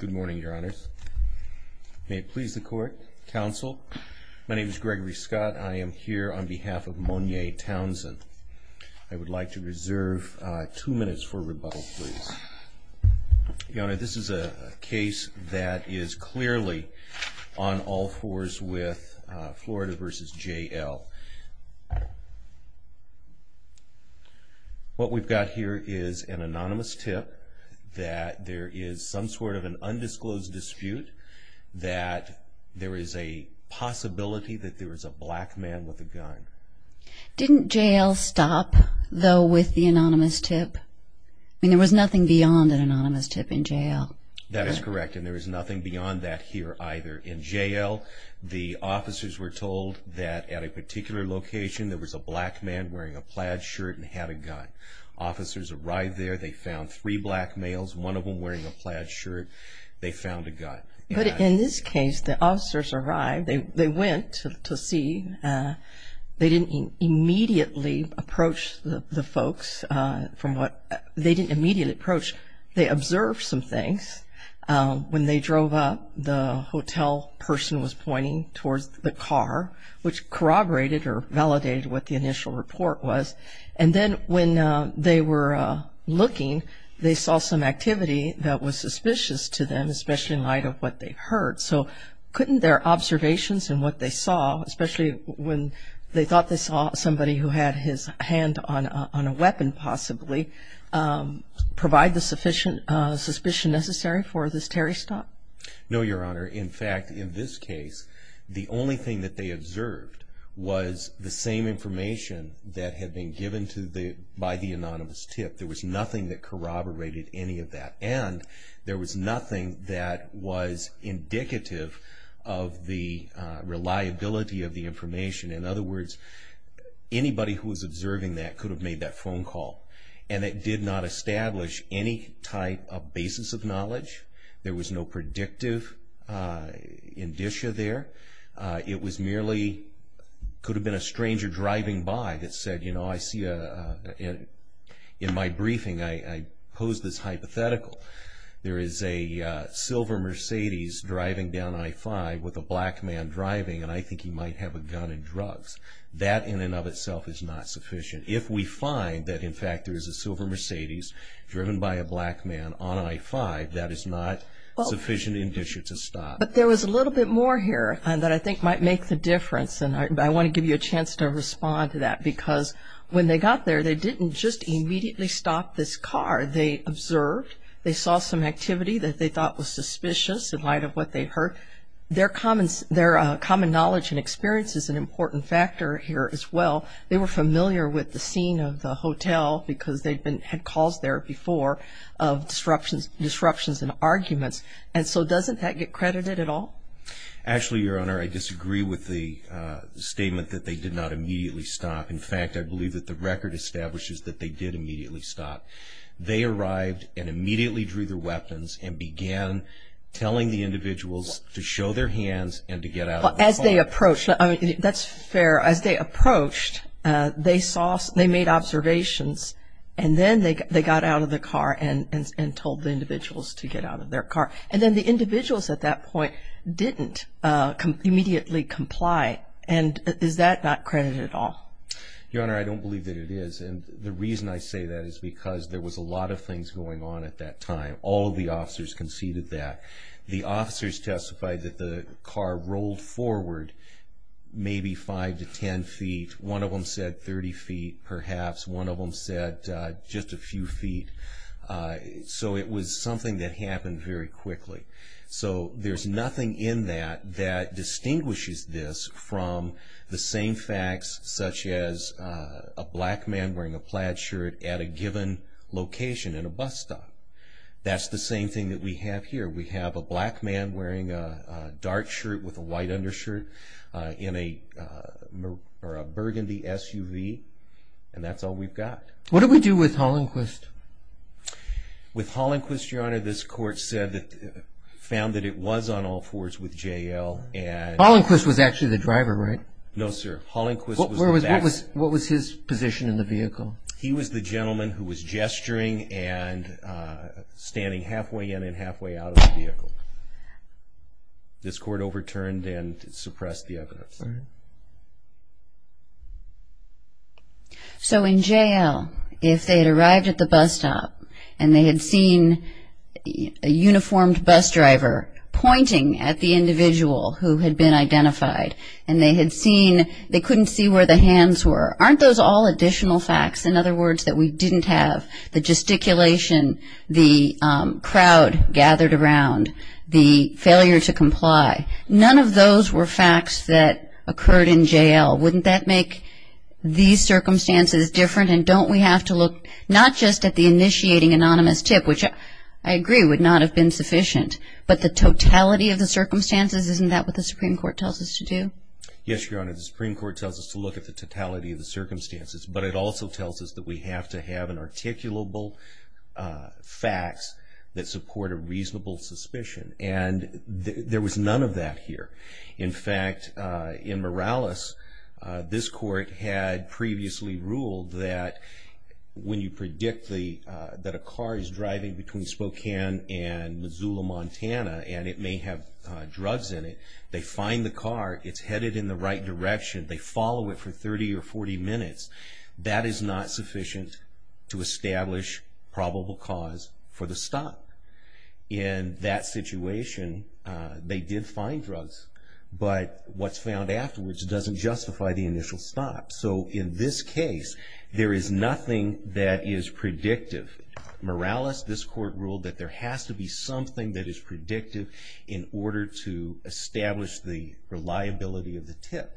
Good morning, your honors. May it please the court. Counsel, my name is Gregory Scott. I am here on behalf of Monya Townsend. I would like to reserve two minutes for rebuttal, please. Your honor, this is a case that is clearly on all fours with Florida v. JL. What we've got here is an anonymous tip that there is some sort of an undisclosed dispute that there is a possibility that there is a black man with a gun. Didn't JL stop, though, with the anonymous tip? I mean, there was nothing beyond an anonymous tip in JL. That is correct, and there is nothing beyond that here either. In JL, the officers were told that at a particular location there was a black man wearing a plaid shirt and had a gun. Officers arrived there. They found three black males, one of them wearing a plaid shirt. They found a gun. But in this case, the officers arrived. They went to see. They didn't immediately approach the folks from what they didn't immediately approach. They observed some things. When they drove up, the hotel person was pointing towards the car, which corroborated or validated what the initial report was. And then when they were looking, they saw some activity that was suspicious to them, especially in light of what they heard. So couldn't their observations and what they saw, especially when they thought they saw somebody who had his hand on a weapon possibly, provide the sufficient suspicion necessary for this Terry stop? No, Your Honor. In fact, in this case, the only thing that they observed was the same information that had been given by the anonymous tip. There was nothing that corroborated any of that, and there was nothing that was indicative of the reliability of the information. In other words, anybody who was observing that could have made that phone call. And it did not establish any type of basis of knowledge. There was no predictive indicia there. It merely could have been a stranger driving by that said, you know, I see in my briefing, I pose this hypothetical. There is a silver Mercedes driving down I-5 with a black man driving, and I think he might have a gun and drugs. That in and of itself is not sufficient. If we find that, in fact, there is a silver Mercedes driven by a black man on I-5, that is not sufficient indicia to stop. But there was a little bit more here that I think might make the difference, and I want to give you a chance to respond to that. Because when they got there, they didn't just immediately stop this car. They observed. They saw some activity that they thought was suspicious in light of what they heard. Their common knowledge and experience is an important factor here as well. They were familiar with the scene of the hotel because they had calls there before of disruptions and arguments. And so doesn't that get credited at all? Actually, Your Honor, I disagree with the statement that they did not immediately stop. In fact, I believe that the record establishes that they did immediately stop. They arrived and immediately drew their weapons and began telling the individuals to show their hands and to get out of the car. Well, as they approached, that's fair. As they approached, they made observations, and then they got out of the car and told the individuals to get out of their car. And then the individuals at that point didn't immediately comply. And is that not credited at all? Your Honor, I don't believe that it is. And the reason I say that is because there was a lot of things going on at that time. All of the officers conceded that. The officers testified that the car rolled forward maybe 5 to 10 feet. One of them said 30 feet, perhaps. One of them said just a few feet. So it was something that happened very quickly. So there's nothing in that that distinguishes this from the same facts, such as a black man wearing a plaid shirt at a given location in a bus stop. That's the same thing that we have here. We have a black man wearing a dark shirt with a white undershirt in a burgundy SUV, and that's all we've got. What did we do with Hollenquist? With Hollenquist, Your Honor, this court found that it was on all fours with J.L. Hollenquist was actually the driver, right? No, sir. What was his position in the vehicle? He was the gentleman who was gesturing and standing halfway in and halfway out of the vehicle. This court overturned and suppressed the evidence. Go ahead. So in J.L., if they had arrived at the bus stop and they had seen a uniformed bus driver pointing at the individual who had been identified and they couldn't see where the hands were, aren't those all additional facts? In other words, that we didn't have the gesticulation, the crowd gathered around, the failure to comply. None of those were facts that occurred in J.L. Wouldn't that make these circumstances different? And don't we have to look not just at the initiating anonymous tip, which I agree would not have been sufficient, but the totality of the circumstances? Isn't that what the Supreme Court tells us to do? Yes, Your Honor. The Supreme Court tells us to look at the totality of the circumstances, but it also tells us that we have to have an articulable facts that support a reasonable suspicion. And there was none of that here. In fact, in Morales, this court had previously ruled that when you predict that a car is driving between Spokane and Missoula, Montana, and it may have drugs in it, they find the car, it's headed in the right direction, they follow it for 30 or 40 minutes. That is not sufficient to establish probable cause for the stop. In that situation, they did find drugs, but what's found afterwards doesn't justify the initial stop. So in this case, there is nothing that is predictive. Morales, this court ruled that there has to be something that is predictive in order to establish the reliability of the tip.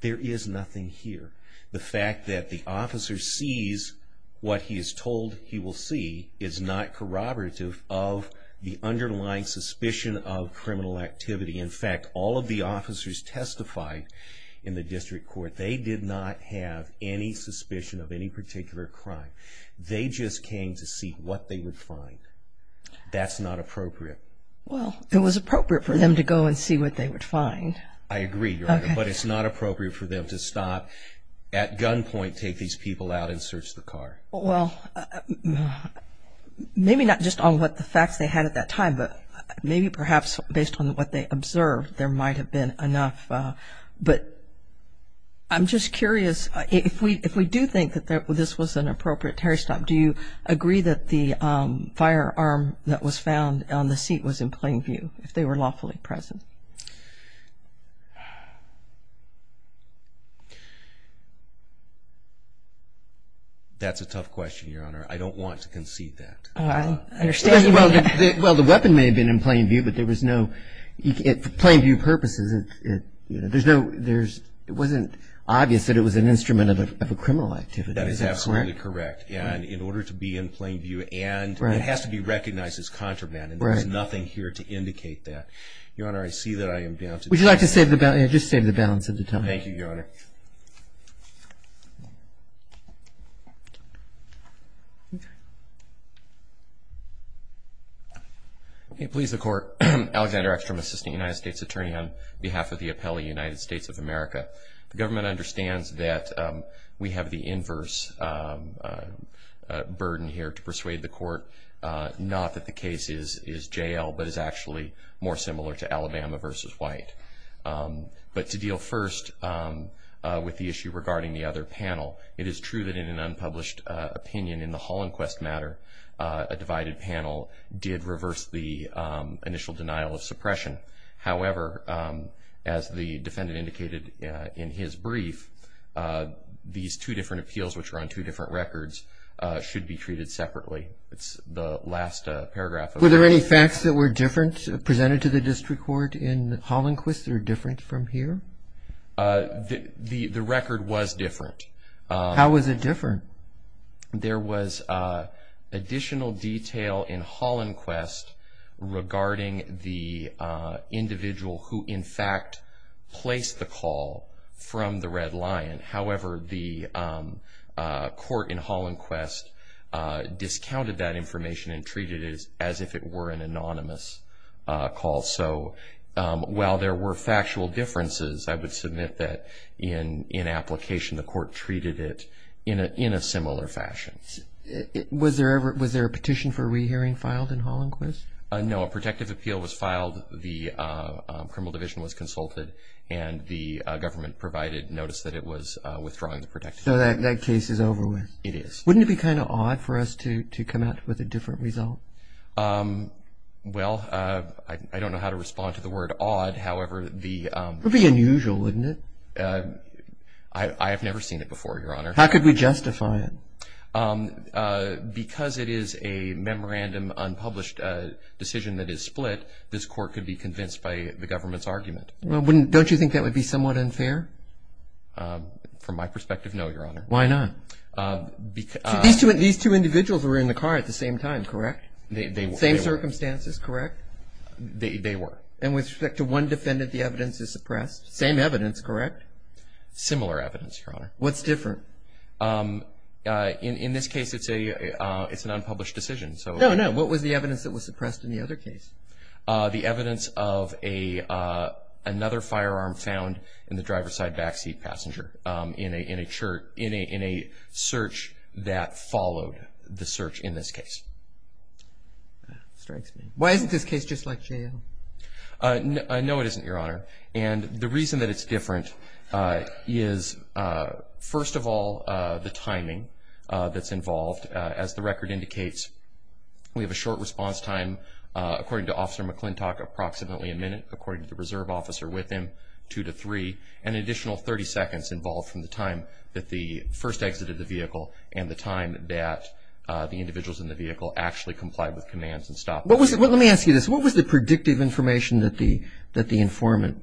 There is nothing here. The fact that the officer sees what he is told he will see is not corroborative of the underlying suspicion of criminal activity. In fact, all of the officers testified in the district court, they did not have any suspicion of any particular crime. They just came to see what they would find. That's not appropriate. Well, it was appropriate for them to go and see what they would find. I agree, Your Honor, but it's not appropriate for them to stop at gunpoint, take these people out, and search the car. Well, maybe not just on what the facts they had at that time, but maybe perhaps based on what they observed, there might have been enough. But I'm just curious, if we do think that this was an appropriate terror stop, do you agree that the firearm that was found on the seat was in plain view, if they were lawfully present? That's a tough question, Your Honor. I don't want to concede that. I understand. Well, the weapon may have been in plain view, but there was no – for plain view purposes, there's no – it wasn't obvious that it was an instrument of a criminal activity. That is absolutely correct. And in order to be in plain view, and it has to be recognized as contraband, and there's nothing here to indicate that. Your Honor, I see that I am down to – Would you like to say – just state the balance at the time. Thank you, Your Honor. Please, the Court. Alexander Eckstrom, Assistant United States Attorney, on behalf of the Appellee United States of America. The government understands that we have the inverse burden here to persuade the court, not that the case is J.L., but is actually more similar to Alabama v. White. But to deal first with the issue regarding the other panel, it is true that in an unpublished opinion in the Hollandquest matter, a divided panel did reverse the initial denial of suppression. However, as the defendant indicated in his brief, these two different appeals, which are on two different records, should be treated separately. It's the last paragraph of that. Were there any facts that were different presented to the district court in Hollandquest or different from here? The record was different. How was it different? There was additional detail in Hollandquest regarding the individual who in fact placed the call from the Red Lion. However, the court in Hollandquest discounted that information and treated it as if it were an anonymous call. So while there were factual differences, I would submit that in application the court treated it in a similar fashion. Was there a petition for rehearing filed in Hollandquest? No. A protective appeal was filed, the criminal division was consulted, and the government provided notice that it was withdrawing the protective appeal. So that case is over with. It is. Wouldn't it be kind of odd for us to come out with a different result? Well, I don't know how to respond to the word odd. It would be unusual, wouldn't it? I have never seen it before, Your Honor. How could we justify it? Because it is a memorandum unpublished decision that is split, this court could be convinced by the government's argument. Don't you think that would be somewhat unfair? From my perspective, no, Your Honor. Why not? These two individuals were in the car at the same time, correct? They were. Same circumstances, correct? They were. And with respect to one defendant, the evidence is suppressed? Same evidence, correct? Similar evidence, Your Honor. What's different? In this case, it's an unpublished decision. No, no. What was the evidence that was suppressed in the other case? The evidence of another firearm found in the driver's side backseat passenger in a search that followed the search in this case. That strikes me. Why isn't this case just like J.L.? No, it isn't, Your Honor. And the reason that it's different is, first of all, the timing that's involved. As the record indicates, we have a short response time, according to Officer McClintock, approximately a minute, according to the reserve officer with him, two to three, and an additional 30 seconds involved from the time that the first exited the vehicle and the time that the individuals in the vehicle actually complied with commands and stopped the vehicle. Let me ask you this. What was the predictive information that the informant,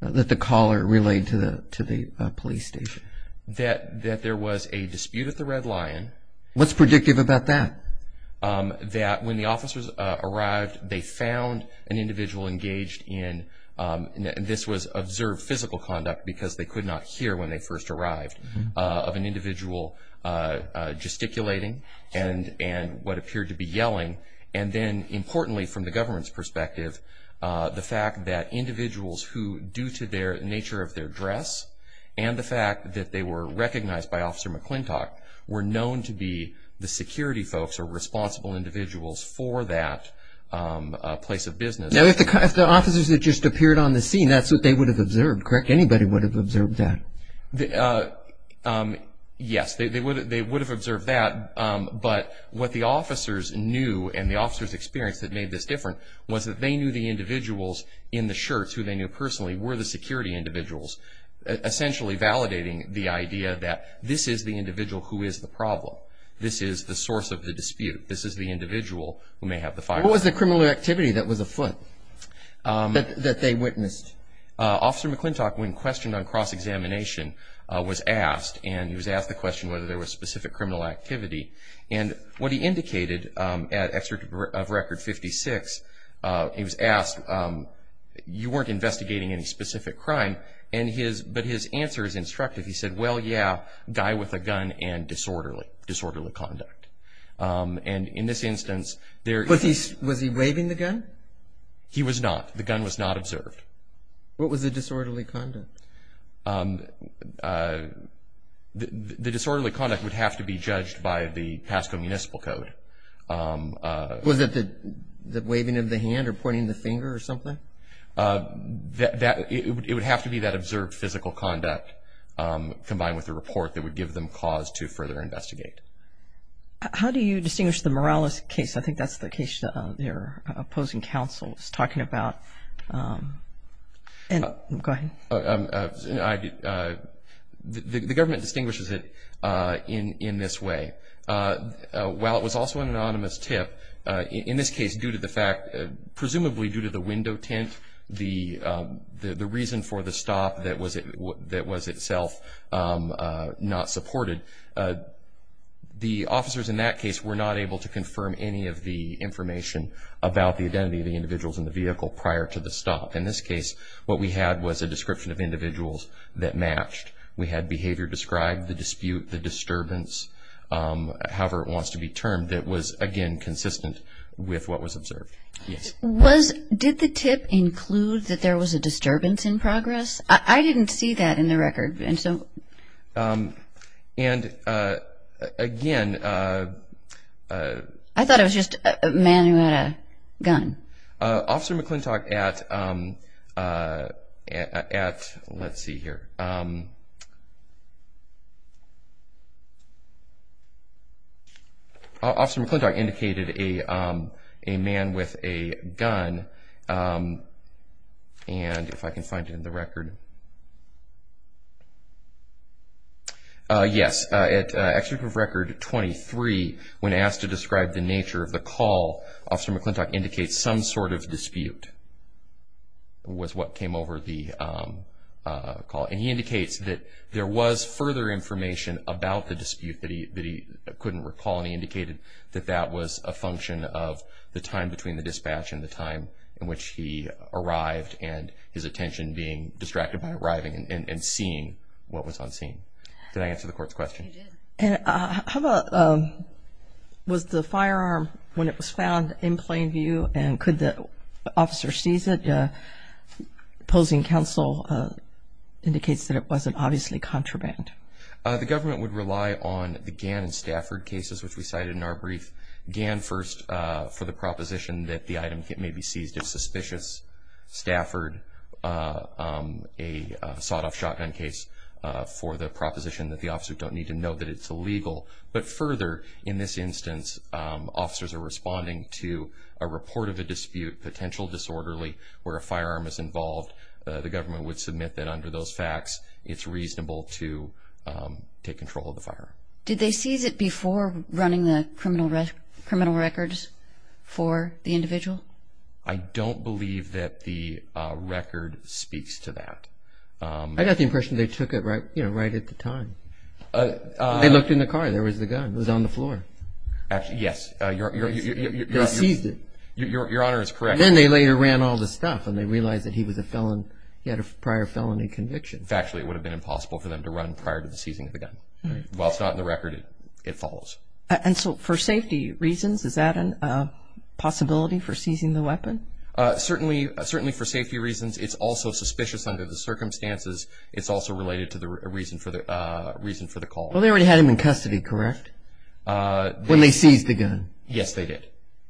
that the caller relayed to the police station? That there was a dispute at the Red Lion. What's predictive about that? That when the officers arrived, they found an individual engaged in, and this was observed physical conduct because they could not hear when they first arrived, of an individual gesticulating and what appeared to be yelling. And then, importantly, from the government's perspective, the fact that individuals who, due to their nature of their dress and the fact that they were recognized by Officer McClintock, were known to be the security folks or responsible individuals for that place of business. Now, if the officers had just appeared on the scene, that's what they would have observed, correct? Anybody would have observed that. Yes. They would have observed that, but what the officers knew and the officers' experience that made this different was that they knew the individuals in the shirts, who they knew personally, were the security individuals, essentially validating the idea that this is the individual who is the problem. This is the source of the dispute. This is the individual who may have the firearm. What was the criminal activity that was afoot that they witnessed? Officer McClintock, when questioned on cross-examination, was asked, and he was asked the question whether there was specific criminal activity, and what he indicated at Excerpt of Record 56, he was asked, you weren't investigating any specific crime, but his answer is instructive. He said, well, yeah, guy with a gun and disorderly conduct. And in this instance, there... Was he waving the gun? He was not. The gun was not observed. What was the disorderly conduct? The disorderly conduct would have to be judged by the Pasco Municipal Code. Was it the waving of the hand or pointing the finger or something? It would have to be that observed physical conduct combined with the report that would give them cause to further investigate. How do you distinguish the Morales case? I think that's the case they're opposing counsel is talking about. Go ahead. The government distinguishes it in this way. While it was also an anonymous tip, in this case, due to the fact, presumably due to the window tint, the reason for the stop that was itself not supported, the officers in that case were not able to confirm any of the information about the identity of the individuals in the vehicle prior to the stop. In this case, what we had was a description of individuals that matched. We had behavior described, the dispute, the disturbance, however it wants to be termed, that was, again, consistent with what was observed. Did the tip include that there was a disturbance in progress? I didn't see that in the record. And, again. I thought it was just a man who had a gun. Officer McClintock at, let's see here. Officer McClintock indicated a man with a gun. And if I can find it in the record. Yes. At Executive Record 23, when asked to describe the nature of the call, Officer McClintock indicates some sort of dispute was what came over the call. And he indicates that there was further information about the dispute that he couldn't recall, and he indicated that that was a function of the time between the dispatch and the time in which he arrived and his attention being distracted by arriving and seeing what was on scene. Did I answer the Court's question? You did. How about was the firearm, when it was found, in plain view? And could the officer seize it? Opposing counsel indicates that it wasn't obviously contraband. The government would rely on the Gann and Stafford cases, which we cited in our brief. Gann first for the proposition that the item may be seized if suspicious. Stafford, a sawed-off shotgun case, for the proposition that the officer don't need to know that it's illegal. But further, in this instance, officers are responding to a report of a dispute, potential disorderly, where a firearm is involved. The government would submit that under those facts it's reasonable to take control of the firearm. Did they seize it before running the criminal records for the individual? I don't believe that the record speaks to that. I got the impression they took it right at the time. They looked in the car. There was the gun. It was on the floor. Yes. They seized it. Your Honor is correct. And then they later ran all the stuff and they realized that he was a felon. He had a prior felony conviction. Factually, it would have been impossible for them to run prior to the seizing of the gun. While it's not in the record, it follows. And so for safety reasons, is that a possibility for seizing the weapon? Certainly for safety reasons. It's also suspicious under the circumstances. It's also related to the reason for the call. Well, they already had him in custody, correct, when they seized the gun? Yes, they did.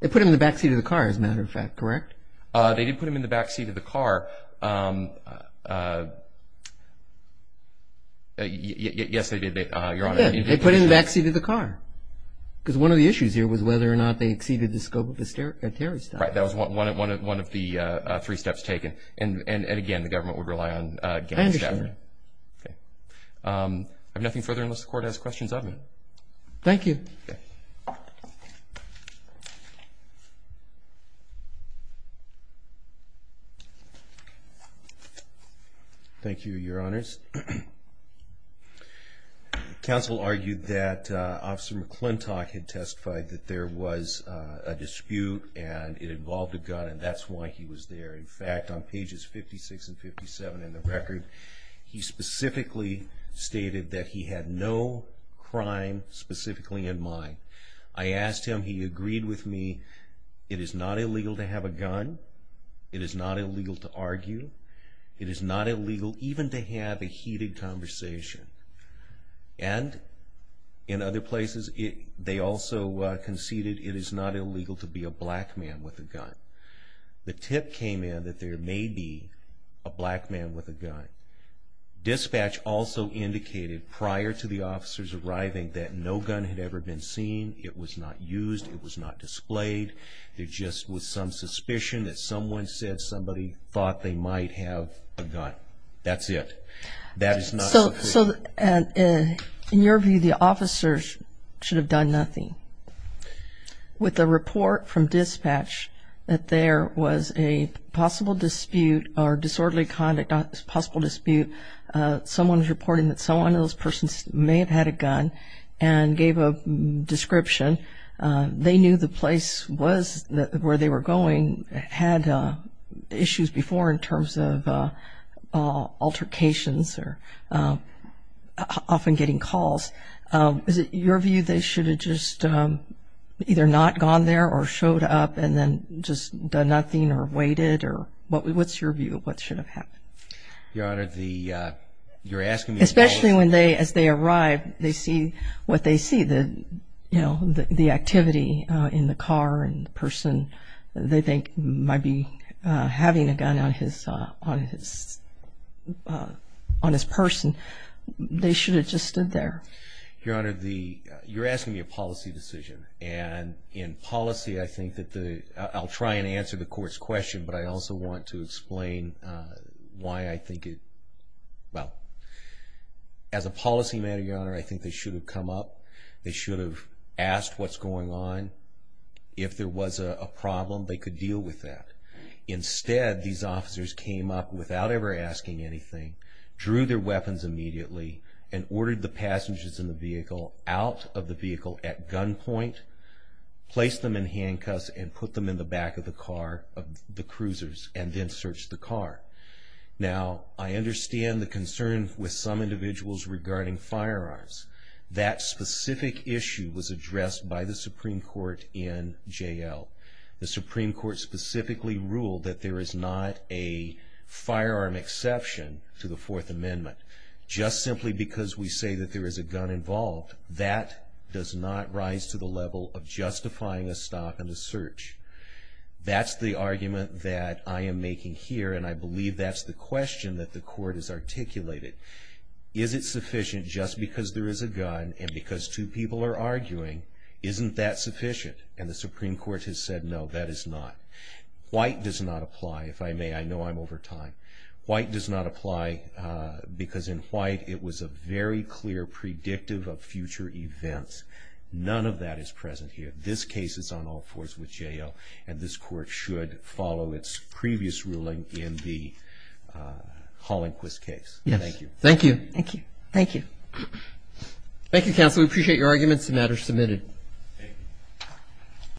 They put him in the backseat of the car, as a matter of fact, correct? They did put him in the backseat of the car. Yes, they did, Your Honor. They put him in the backseat of the car. Because one of the issues here was whether or not they exceeded the scope of the terrorist attack. Right. That was one of the three steps taken. And, again, the government would rely on gang shattering. I understand. Okay. I have nothing further unless the Court has questions of me. Thank you. Thank you. Thank you, Your Honors. Counsel argued that Officer McClintock had testified that there was a dispute, and it involved a gun, and that's why he was there. In fact, on pages 56 and 57 in the record, he specifically stated that he had no crime specifically in mind. I asked him. He agreed with me. It is not illegal to have a gun. It is not illegal to argue. It is not illegal even to have a heated conversation. And, in other places, they also conceded it is not illegal to be a black man with a gun. The tip came in that there may be a black man with a gun. Dispatch also indicated prior to the officers arriving that no gun had ever been seen. It was not used. It was not displayed. There just was some suspicion that someone said somebody thought they might have a gun. That's it. That is not the proof. So, in your view, the officers should have done nothing. With the report from dispatch that there was a possible dispute or disorderly conduct possible dispute, someone is reporting that someone in those persons may have had a gun and gave a description. They knew the place where they were going had issues before in terms of altercations or often getting calls. Is it your view they should have just either not gone there or showed up and then just done nothing or waited? Or what's your view of what should have happened? Your Honor, you're asking me about… Especially as they arrive, they see what they see, the activity in the car and the person they think might be having a gun on his person. They should have just stood there. Your Honor, you're asking me a policy decision. And in policy, I think that the… I'll try and answer the Court's question, but I also want to explain why I think it… Well, as a policy matter, Your Honor, I think they should have come up. They should have asked what's going on. If there was a problem, they could deal with that. Instead, these officers came up without ever asking anything, drew their weapons immediately, and ordered the passengers in the vehicle out of the vehicle at gunpoint, placed them in handcuffs, and put them in the back of the car, the cruisers, and then searched the car. Now, I understand the concern with some individuals regarding firearms. That specific issue was addressed by the Supreme Court in J.L. The Supreme Court specifically ruled that there is not a firearm exception to the Fourth Amendment. Just simply because we say that there is a gun involved, that does not rise to the level of justifying a stop and a search. That's the argument that I am making here, and I believe that's the question that the Court has articulated. Is it sufficient just because there is a gun, and because two people are arguing, isn't that sufficient? And the Supreme Court has said, no, that is not. White does not apply. If I may, I know I'm over time. White does not apply because in White it was a very clear predictive of future events. None of that is present here. This case is on all fours with J.L., and this Court should follow its previous ruling in the Holinquist case. Thank you. Thank you. Thank you. Thank you, Counsel. We appreciate your arguments. The matter is submitted. Thank you.